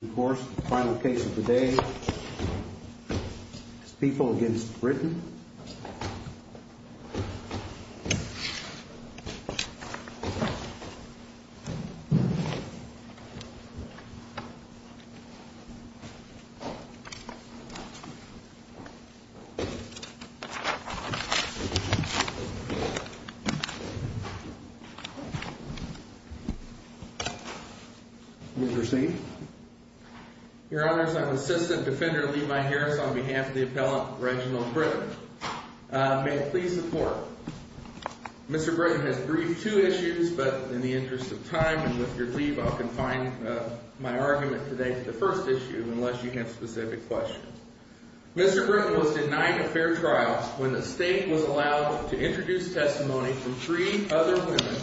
Of course, the final case of the day is People v. Britton. Your Honor, I'm Assistant Defender Levi Harris on behalf of the appellant Reginald Britton. May it please the Court, Mr. Britton has briefed two issues, but in the interest of time and with your leave, I'll confine my argument today to the first issue unless you have specific questions. Mr. Britton was denied a fair trial when the State was allowed to introduce testimony from three other women,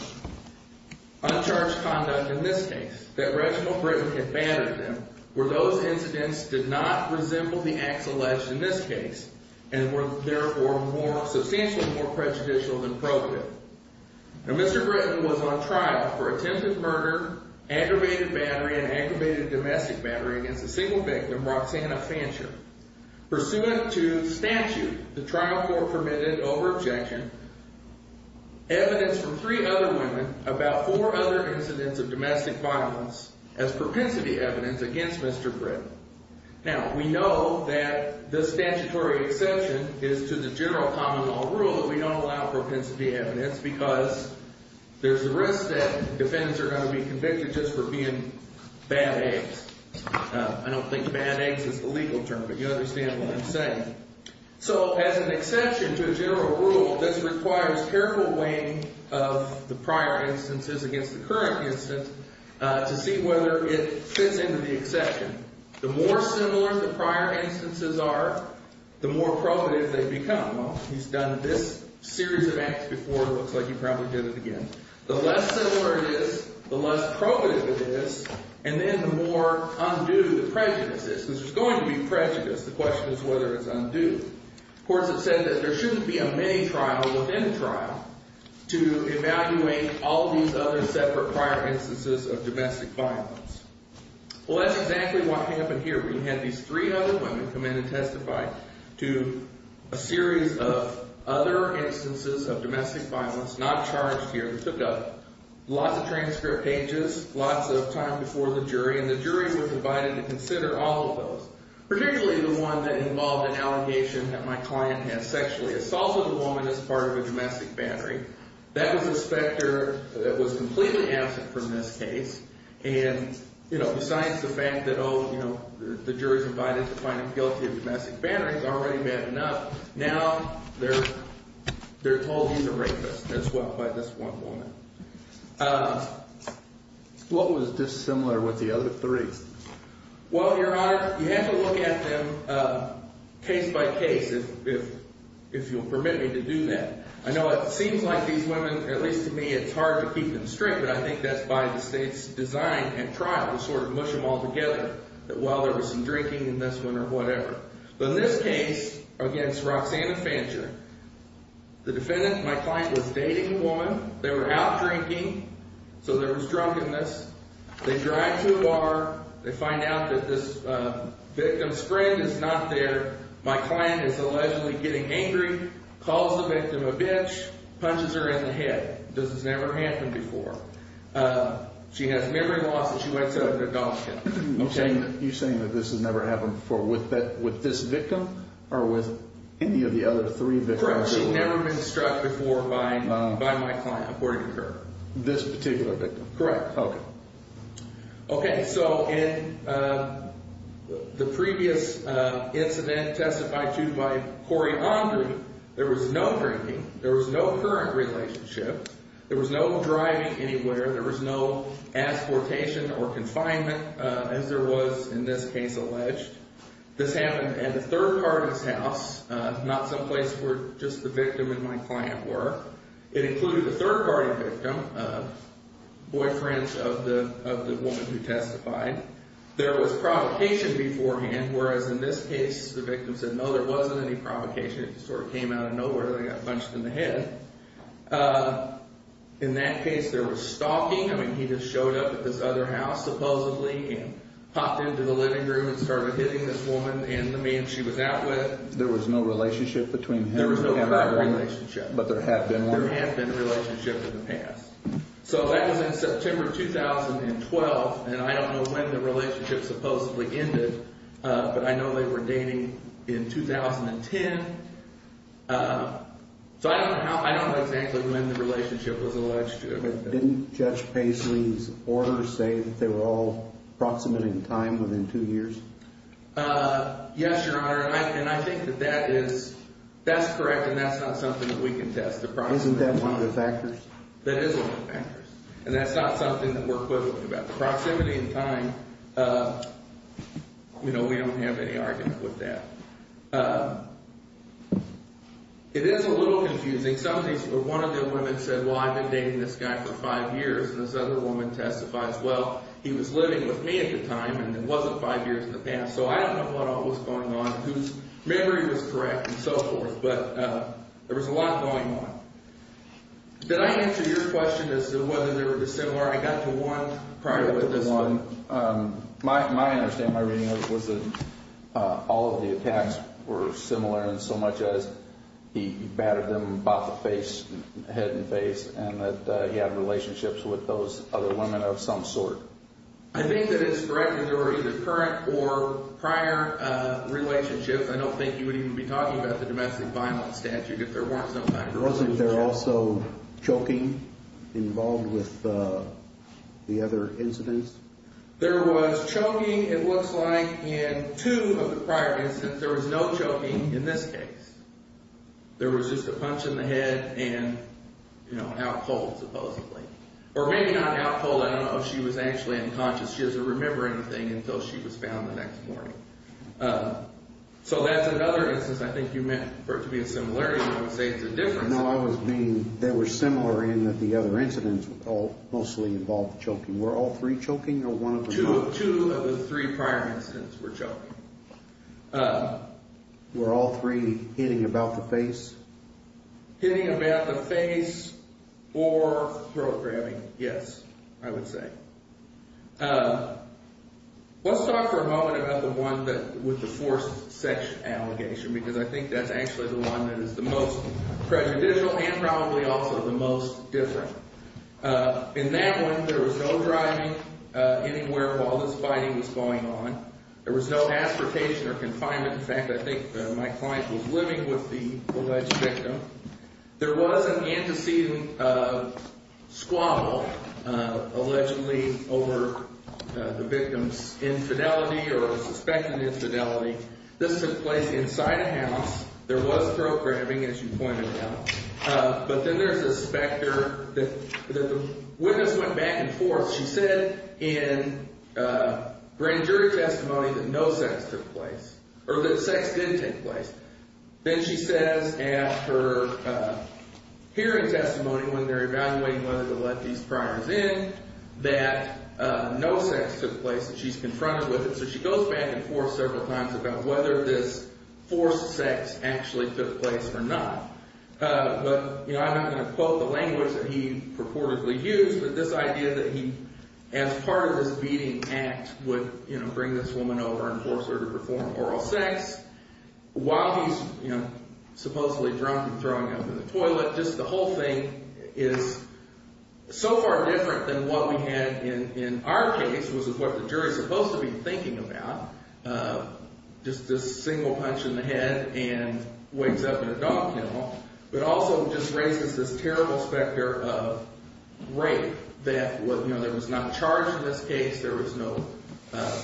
uncharged conduct in this case, that Reginald Britton had battered them, where those incidents did not resemble the acts alleged in this case and were therefore substantially more prejudicial than probative. Now, Mr. Britton was on trial for attempted murder, aggravated battery, and aggravated domestic battery against a single victim, Roxanna Fancher. Pursuant to statute, the trial court permitted over objection, evidence from three other women about four other incidents of domestic violence as propensity evidence against Mr. Britton. Now, we know that the statutory exception is to the general common law rule that we don't allow propensity evidence because there's a risk that defendants are going to be convicted just for being bad eggs. I don't think bad eggs is the legal term, but you understand what I'm saying. So as an exception to a general rule, this requires careful weighing of the prior instances against the current instance to see whether it fits into the exception. The more similar the prior instances are, the more probative they become. Well, he's done this series of acts before. It looks like he probably did it again. The less similar it is, the less probative it is, and then the more undue the prejudice is because there's going to be prejudice. The question is whether it's undue. Of course, it said that there shouldn't be a mini-trial within a trial to evaluate all these other separate prior instances of domestic violence. Well, that's exactly what happened here. We had these three other women come in and testify to a series of other instances of domestic violence, not charged here. They took up lots of transcript pages, lots of time before the jury, and the jury was invited to consider all of those. Particularly the one that involved an allegation that my client had sexually assaulted a woman as part of a domestic battery. That was a specter that was completely absent from this case. And, you know, besides the fact that, oh, you know, the jury's invited to find him guilty of domestic battery, he's already met enough. Now they're told he's a rapist, as well, by this one woman. What was dissimilar with the other three? Well, Your Honor, you have to look at them case by case, if you'll permit me to do that. I know it seems like these women, at least to me, it's hard to keep them straight, but I think that's by the State's design and trial to sort of mush them all together. That, well, there was some drinking in this one or whatever. But in this case, against Roxanna Fancher, the defendant, my client, was dating a woman. They were out drinking, so there was drunkenness. They drive to a bar. They find out that this victim's friend is not there. My client is allegedly getting angry, calls the victim a bitch, punches her in the head. This has never happened before. She has memory loss, and she went to adoption. Okay. You're saying that this has never happened before with this victim or with any of the other three victims? Correct. She's never been struck before by my client, according to her. This particular victim. Correct. Okay. Okay, so in the previous incident testified to by Corey Andrew, there was no drinking. There was no current relationship. There was no driving anywhere. There was no exportation or confinement, as there was in this case alleged. This happened at the third party's house, not someplace where just the victim and my client were. It included the third party victim, boyfriend of the woman who testified. There was provocation beforehand, whereas in this case the victim said, no, there wasn't any provocation. It just sort of came out of nowhere. They got punched in the head. In that case, there was stalking. I mean, he just showed up at this other house, supposedly, and popped into the living room and started hitting this woman and the man she was out with. There was no relationship between him and the woman? There was no direct relationship. But there had been one? There had been a relationship in the past. So that was in September 2012, and I don't know when the relationship supposedly ended, but I know they were dating in 2010. So I don't know exactly when the relationship was alleged to have been. Didn't Judge Paisley's orders say that they were all approximate in time, within two years? Yes, Your Honor, and I think that that is correct, and that's not something that we can test. Isn't that one of the factors? That is one of the factors, and that's not something that we're quibbling about. The proximity in time, you know, we don't have any argument with that. It is a little confusing. One of the women said, well, I've been dating this guy for five years, and this other woman testified as well. He was living with me at the time, and it wasn't five years in the past. So I don't know what all was going on, whose memory was correct and so forth, but there was a lot going on. Did I answer your question as to whether they were dissimilar? I got to one prior to this one. You got to one. My understanding, my reading, was that all of the attacks were similar in so much as he battered them, head and face, and that he had relationships with those other women of some sort. I think that it's correct that there were either current or prior relationships. I don't think you would even be talking about the domestic violence statute if there weren't some type of relationship. Wasn't there also choking involved with the other incidents? There was choking, it looks like, in two of the prior incidents. There was no choking in this case. There was just a punch in the head and, you know, out cold supposedly, or maybe not out cold. I don't know if she was actually unconscious. She doesn't remember anything until she was found the next morning. So that's another instance. I think you meant for it to be a similarity, but I would say it's a difference. No, I was meaning they were similar in that the other incidents mostly involved choking. Were all three choking or one of them? Two of the three prior incidents were choking. Were all three hitting about the face? Hitting about the face or throat grabbing, yes, I would say. Let's talk for a moment about the one with the forced sex allegation because I think that's actually the one that is the most prejudicial and probably also the most different. In that one, there was no driving anywhere while this fighting was going on. There was no ascertation or confinement. In fact, I think my client was living with the alleged victim. There was an antecedent squabble allegedly over the victim's infidelity or suspected infidelity. This took place inside a house. There was throat grabbing, as you pointed out. But then there's a specter that the witness went back and forth. She said in grand jury testimony that no sex took place or that sex did take place. Then she says at her hearing testimony when they're evaluating whether to let these priors in that no sex took place and she's confronted with it. So she goes back and forth several times about whether this forced sex actually took place or not. But I'm not going to quote the language that he purportedly used, but this idea that he, as part of this beating act, would bring this woman over and force her to perform oral sex while he's supposedly drunk and throwing up in the toilet. But just the whole thing is so far different than what we had in our case, which is what the jury is supposed to be thinking about, just a single punch in the head and wakes up in a dog kennel. But also just raises this terrible specter of rape that was not charged in this case. There was no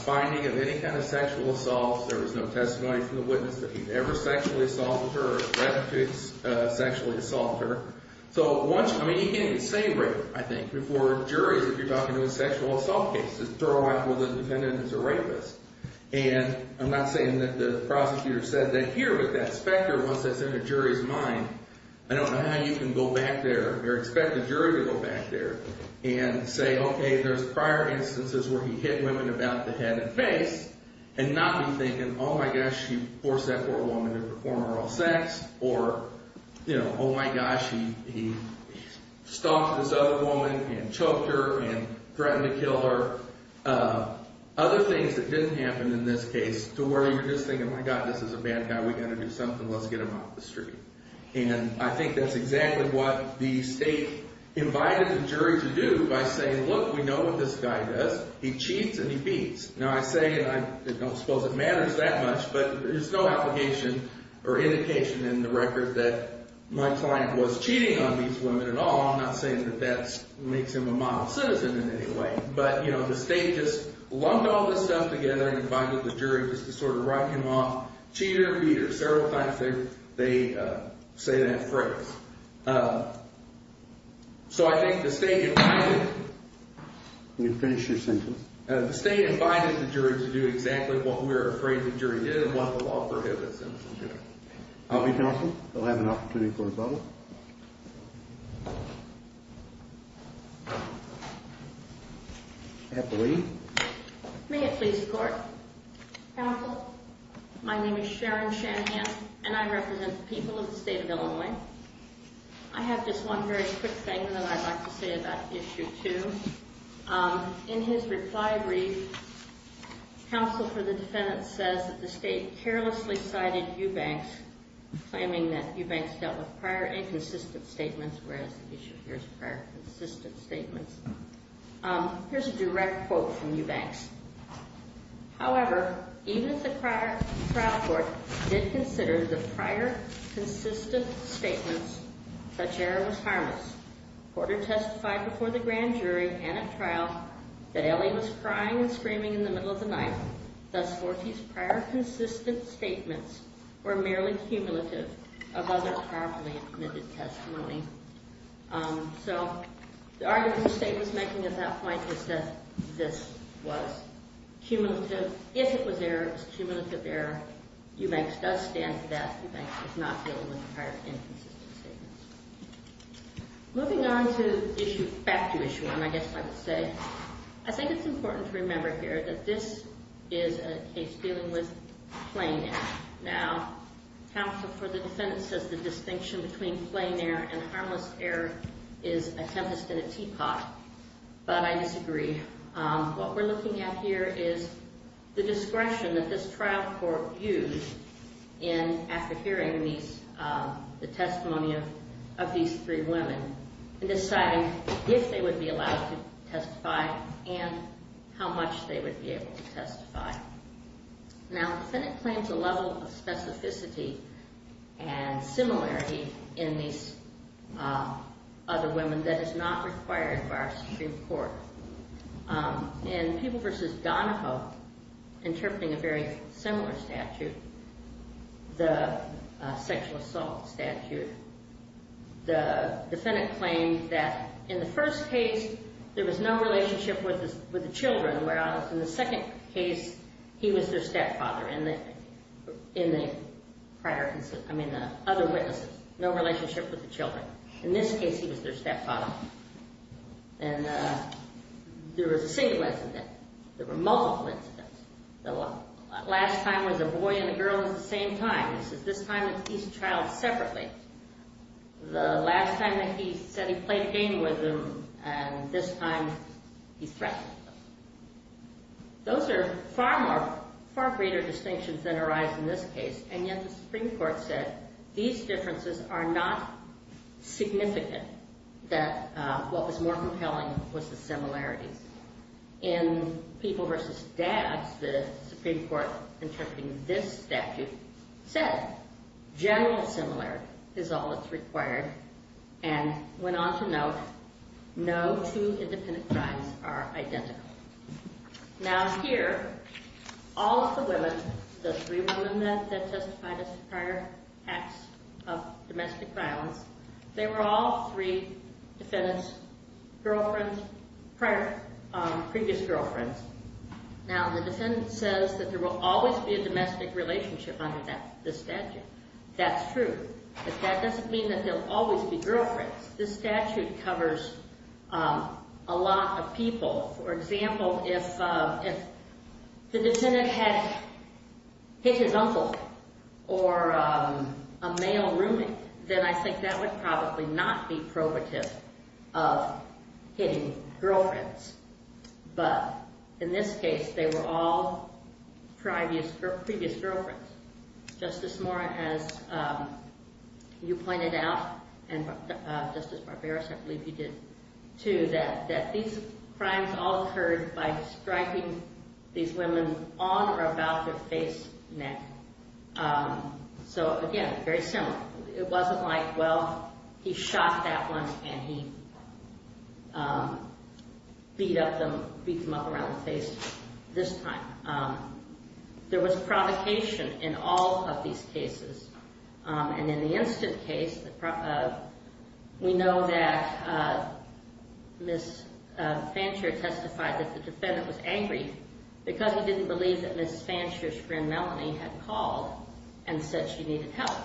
finding of any kind of sexual assault. There was no testimony from the witness that he'd ever sexually assaulted her or had sexually assaulted her. So once, I mean, you can't even say rape, I think, before juries if you're talking to a sexual assault case, to throw out whether the defendant is a rapist. And I'm not saying that the prosecutor said that here, but that specter, once that's in a jury's mind, I don't know how you can go back there or expect a jury to go back there and say, okay, there's prior instances where he hit women about the head and face and not be thinking, oh, my gosh, he forced that poor woman to perform oral sex or, you know, oh, my gosh, he stalked this other woman and choked her and threatened to kill her. Other things that didn't happen in this case to where you're just thinking, my God, this is a bad guy. We've got to do something. Let's get him off the street. And I think that's exactly what the state invited the jury to do by saying, look, we know what this guy does. He cheats and he beats. Now, I say, and I don't suppose it matters that much, but there's no application or indication in the record that my client was cheating on these women at all. I'm not saying that that makes him a model citizen in any way. But, you know, the state just lumped all this stuff together and invited the jury just to sort of write him off. Cheater, beater. Several times they say that phrase. So I think the state invited. Can you finish your sentence? The state invited the jury to do exactly what we're afraid the jury did and what the law prohibits. I'll be counsel. I'll have an opportunity for a vote. I have the lead. May it please the court. Counsel. My name is Sharon Shanhan and I represent the people of the state of Illinois. I have just one very quick thing that I'd like to say about issue two. In his reply brief, counsel for the defendant says that the state carelessly cited Eubanks, claiming that Eubanks dealt with prior inconsistent statements, whereas the issue here is prior consistent statements. Here's a direct quote from Eubanks. However, even if the trial court did consider the prior consistent statements, such error was harmless. Porter testified before the grand jury and at trial that Ellie was crying and screaming in the middle of the night. Thus, Forty's prior consistent statements were merely cumulative of other powerfully admitted testimony. So the argument the state was making at that point was that this was cumulative. If it was error, it was cumulative error. Eubanks does stand to that. Eubanks is not dealing with prior inconsistent statements. Moving on to issue, back to issue one, I guess I would say. I think it's important to remember here that this is a case dealing with plain air. Now, counsel for the defendant says the distinction between plain air and harmless air is a tempest in a teapot, but I disagree. What we're looking at here is the discretion that this trial court used in, after hearing the testimony of these three women, in deciding if they would be allowed to testify and how much they would be able to testify. Now, the defendant claims a level of specificity and similarity in these other women that is not required by our Supreme Court. In People v. Donahoe, interpreting a very similar statute, the sexual assault statute, the defendant claimed that in the first case there was no relationship with the children, whereas in the second case he was their stepfather in the prior, I mean the other witnesses, no relationship with the children. In this case, he was their stepfather. And there was a single incident. There were multiple incidents. The last time was a boy and a girl at the same time. This is this time that he's a child separately. The last time that he said he played a game with them, and this time he threatened them. Those are far greater distinctions than arise in this case, and yet the Supreme Court said these differences are not significant, that what was more compelling was the similarities. In People v. Dads, the Supreme Court interpreting this statute said general similarity is all that's required and went on to note no two independent crimes are identical. Now here, all of the women, the three women that testified as prior acts of domestic violence, they were all three defendants' girlfriends, prior, previous girlfriends. Now the defendant says that there will always be a domestic relationship under this statute. That's true, but that doesn't mean that there will always be girlfriends. This statute covers a lot of people. For example, if the defendant had hit his uncle or a male roommate, then I think that would probably not be probative of hitting girlfriends. But in this case, they were all previous girlfriends. Justice Moore, as you pointed out, and Justice Barbarossa, I believe you did too, that these crimes all occurred by striking these women on or about their face, neck. So again, very similar. It wasn't like, well, he shot that one and he beat up them, beat them up around the face this time. There was provocation in all of these cases. And in the instant case, we know that Ms. Fansher testified that the defendant was angry because he didn't believe that Ms. Fansher's friend Melanie had called and said she needed help.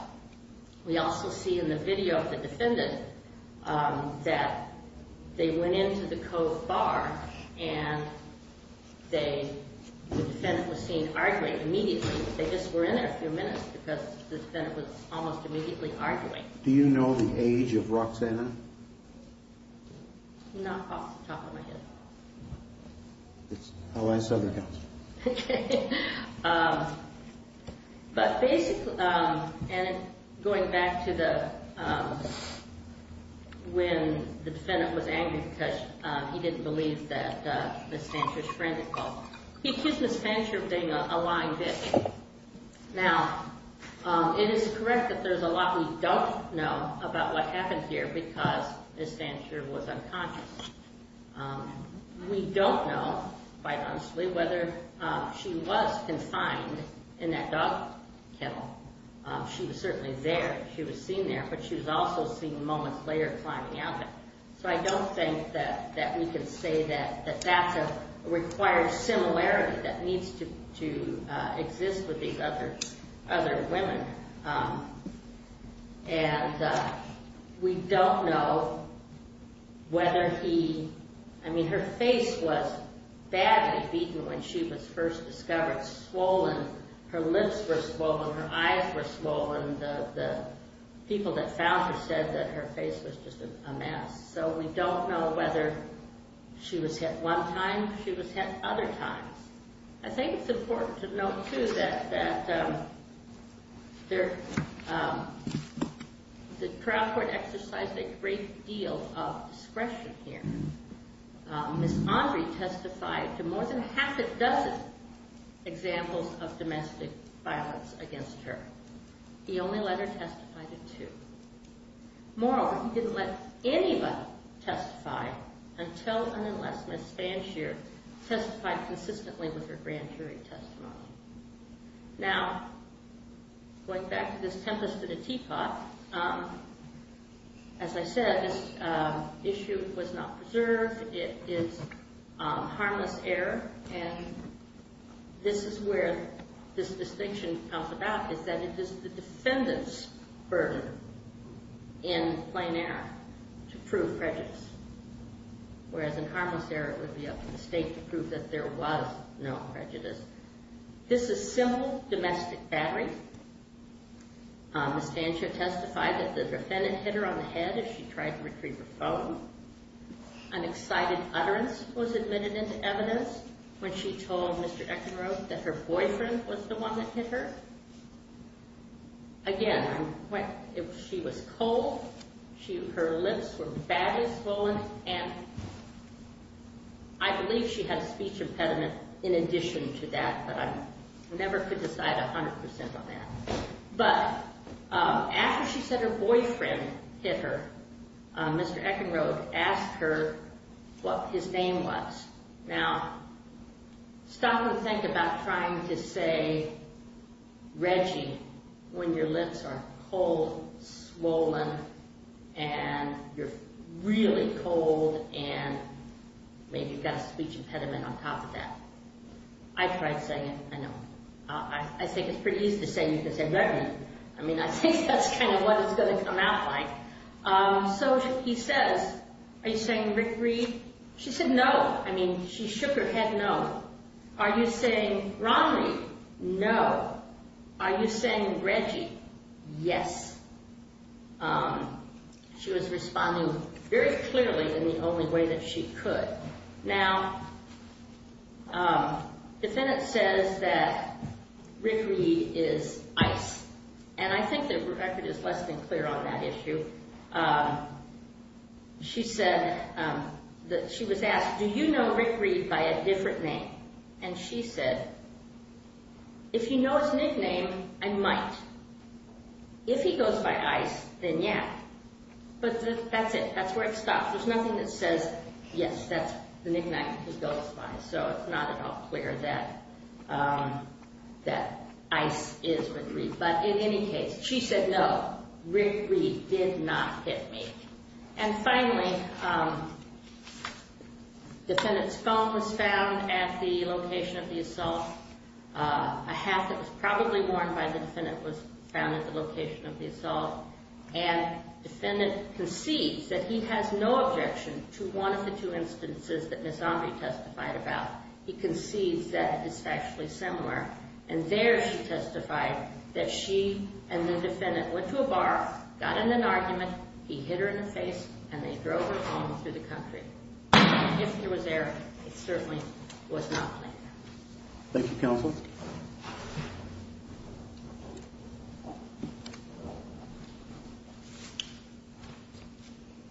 We also see in the video of the defendant that they went into the Cove Bar and the defendant was seen arguing immediately. They just were in there a few minutes because the defendant was almost immediately arguing. Do you know the age of Roxanna? Not off the top of my head. That's how I saw it. Okay. But basically, and going back to when the defendant was angry because he didn't believe that Ms. Fansher's friend had called, he accused Ms. Fansher of being a lying bitch. Now, it is correct that there's a lot we don't know about what happened here because Ms. Fansher was unconscious. We don't know, quite honestly, whether she was confined in that dog kennel. She was certainly there. She was seen there, but she was also seen moments later climbing out of it. So I don't think that we can say that that's a required similarity that needs to exist with these other women. And we don't know whether he – I mean, her face was badly beaten when she was first discovered, swollen. Her lips were swollen. Her eyes were swollen. The people that found her said that her face was just a mess. So we don't know whether she was hit one time. She was hit other times. I think it's important to note, too, that the trial court exercised a great deal of discretion here. Ms. Andre testified to more than half a dozen examples of domestic violence against her. He only let her testify to two. Moreover, he didn't let anybody testify until and unless Ms. Fansher testified consistently with her grand jury testimony. Now, going back to this tempest at a teapot, as I said, this issue was not preserved. It is harmless error. And this is where this distinction comes about, is that it is the defendant's burden in plain error to prove prejudice, whereas in harmless error it would be up to the state to prove that there was no prejudice. This is simple domestic battery. Ms. Fansher testified that the defendant hit her on the head as she tried to retrieve her phone. An excited utterance was admitted into evidence when she told Mr. Eckenrode that her boyfriend was the one that hit her. Again, she was cold. Her lips were badly swollen, and I believe she had a speech impediment in addition to that, but I never could decide 100 percent on that. But after she said her boyfriend hit her, Mr. Eckenrode asked her what his name was. Now, stop and think about trying to say Reggie when your lips are cold, swollen, and you're really cold, and maybe you've got a speech impediment on top of that. I tried saying it, I know. I think it's pretty easy to say you can say Reggie. I mean, I think that's kind of what it's going to come out like. So he says, are you saying Rick Reed? She said no. I mean, she shook her head no. Are you saying Ron Reed? No. Are you saying Reggie? Yes. She was responding very clearly in the only way that she could. Now, defendant says that Rick Reed is ICE, and I think that Rebecca is less than clear on that issue. She said that she was asked, do you know Rick Reed by a different name? And she said, if you know his nickname, I might. If he goes by ICE, then yeah. But that's it. That's where it stops. There's nothing that says, yes, that's the nickname he goes by. So it's not at all clear that ICE is Rick Reed. But in any case, she said no, Rick Reed did not hit me. And finally, defendant's phone was found at the location of the assault. A hat that was probably worn by the defendant was found at the location of the assault. And defendant concedes that he has no objection to one of the two instances that Ms. Andre testified about. He concedes that it is factually similar. And there she testified that she and the defendant went to a bar, got in an argument, he hit her in the face, and they drove her home through the country. If he was there, it certainly was not planned. Thank you, counsel.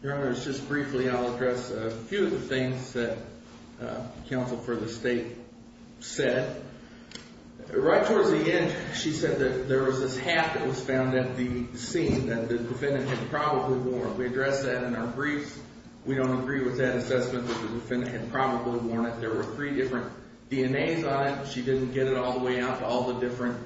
Your Honor, just briefly I'll address a few of the things that counsel for the state said. Right towards the end, she said that there was this hat that was found at the scene that the defendant had probably worn. We addressed that in our briefs. We don't agree with that assessment that the defendant had probably worn it. There were three different DNAs on it. She didn't get it all the way out to all the different,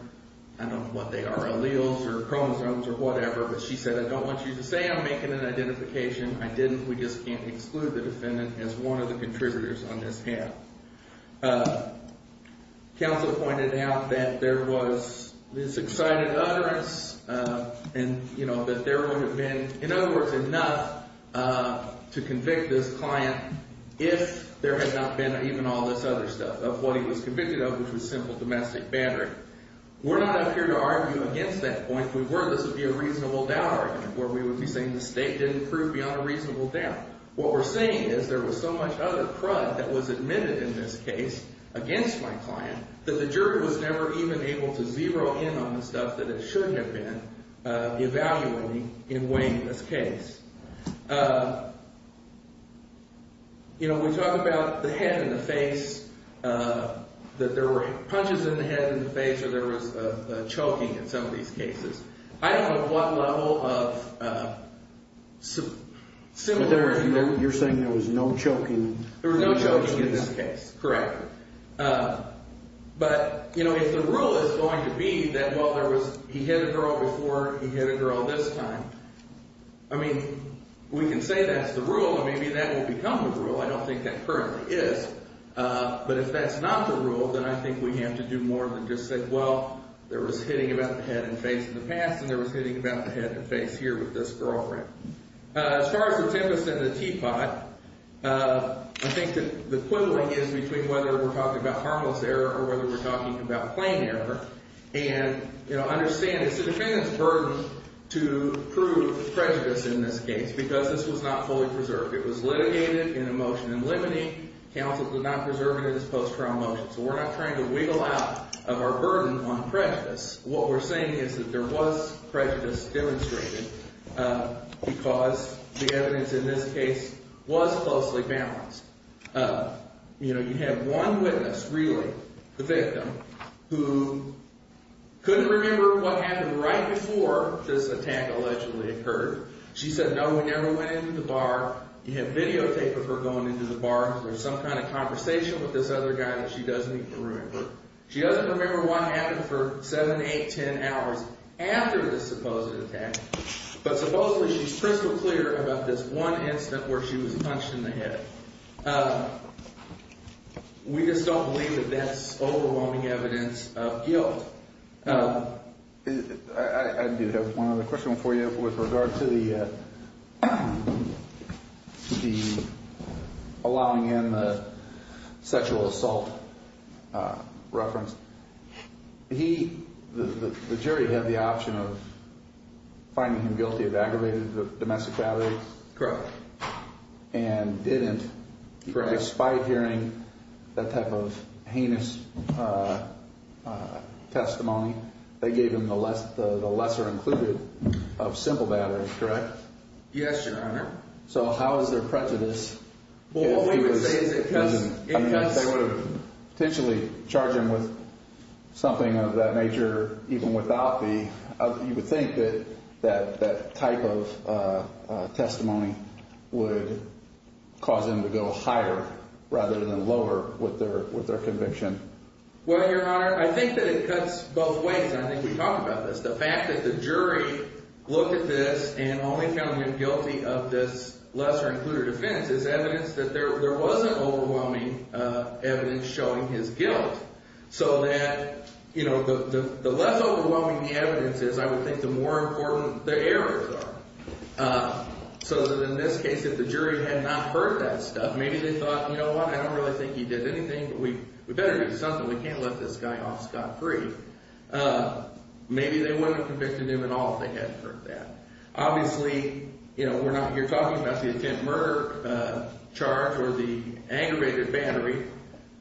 I don't know what they are, alleles or chromosomes or whatever. But she said, I don't want you to say I'm making an identification. I didn't. We just can't exclude the defendant as one of the contributors on this hat. Counsel pointed out that there was this excited utterance and, you know, that there would have been, in other words, enough to convict this client if there had not been even all this other stuff of what he was convicted of, which was simple domestic battery. We're not up here to argue against that point. If we were, this would be a reasonable doubt argument where we would be saying the state didn't prove beyond a reasonable doubt. What we're saying is there was so much other crud that was admitted in this case against my client that the jury was never even able to zero in on the stuff that it should have been evaluating in weighing this case. You know, we talk about the head and the face, that there were punches in the head and the face or there was a choking in some of these cases. I don't know what level of similar. You're saying there was no choking. There was no choking in this case. Correct. But, you know, if the rule is going to be that, well, there was – he hit a girl before he hit a girl this time, I mean, we can say that's the rule and maybe that will become the rule. I don't think that currently is. But if that's not the rule, then I think we have to do more than just say, well, there was hitting about the head and face in the past and there was hitting about the head and face here with this girlfriend. As far as the tempest and the teapot, I think that the equivalent is between whether we're talking about harmless error or whether we're talking about plain error. And, you know, understand it's the defendant's burden to prove prejudice in this case because this was not fully preserved. It was litigated in a motion in limine. Counsel did not preserve it in this post-trial motion. So we're not trying to wiggle out of our burden on prejudice. What we're saying is that there was prejudice demonstrated because the evidence in this case was closely balanced. You know, you have one witness really, the victim, who couldn't remember what happened right before this attack allegedly occurred. She said, no, we never went into the bar. You have videotape of her going into the bar because there's some kind of conversation with this other guy that she doesn't even remember. She doesn't remember what happened for seven, eight, ten hours after this supposed attack. But supposedly she's crystal clear about this one incident where she was punched in the head. We just don't believe that that's overwhelming evidence of guilt. I do have one other question for you with regard to the allowing in the sexual assault reference. He, the jury, had the option of finding him guilty of aggravated domestic violence. Correct. And didn't. Correct. Despite hearing that type of heinous testimony, they gave him the lesser included of simple battery. Correct. Yes, Your Honor. So how is there prejudice? Well, what we would say is it cuts. Potentially charge him with something of that nature even without the. You would think that that type of testimony would cause him to go higher rather than lower with their conviction. Well, Your Honor, I think that it cuts both ways. I think we talked about this. The fact that the jury looked at this and only found him guilty of this lesser included offense is evidence that there wasn't overwhelming evidence showing his guilt. So that, you know, the less overwhelming the evidence is, I would think the more important the errors are. So that in this case, if the jury had not heard that stuff, maybe they thought, you know what, I don't really think he did anything. We better do something. We can't let this guy off scot free. Maybe they wouldn't have convicted him at all if they hadn't heard that. Obviously, you know, we're not here talking about the attempted murder charge or the aggravated battery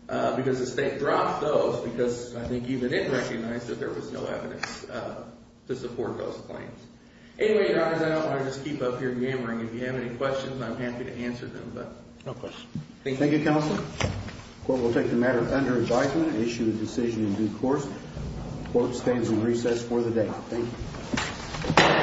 because the state dropped those because I think even it recognized that there was no evidence to support those claims. Anyway, Your Honor, I don't want to just keep up here yammering. If you have any questions, I'm happy to answer them. But no questions. Thank you, Counselor. The court will take the matter under indictment and issue a decision in due course. The court stands in recess for the day. Thank you.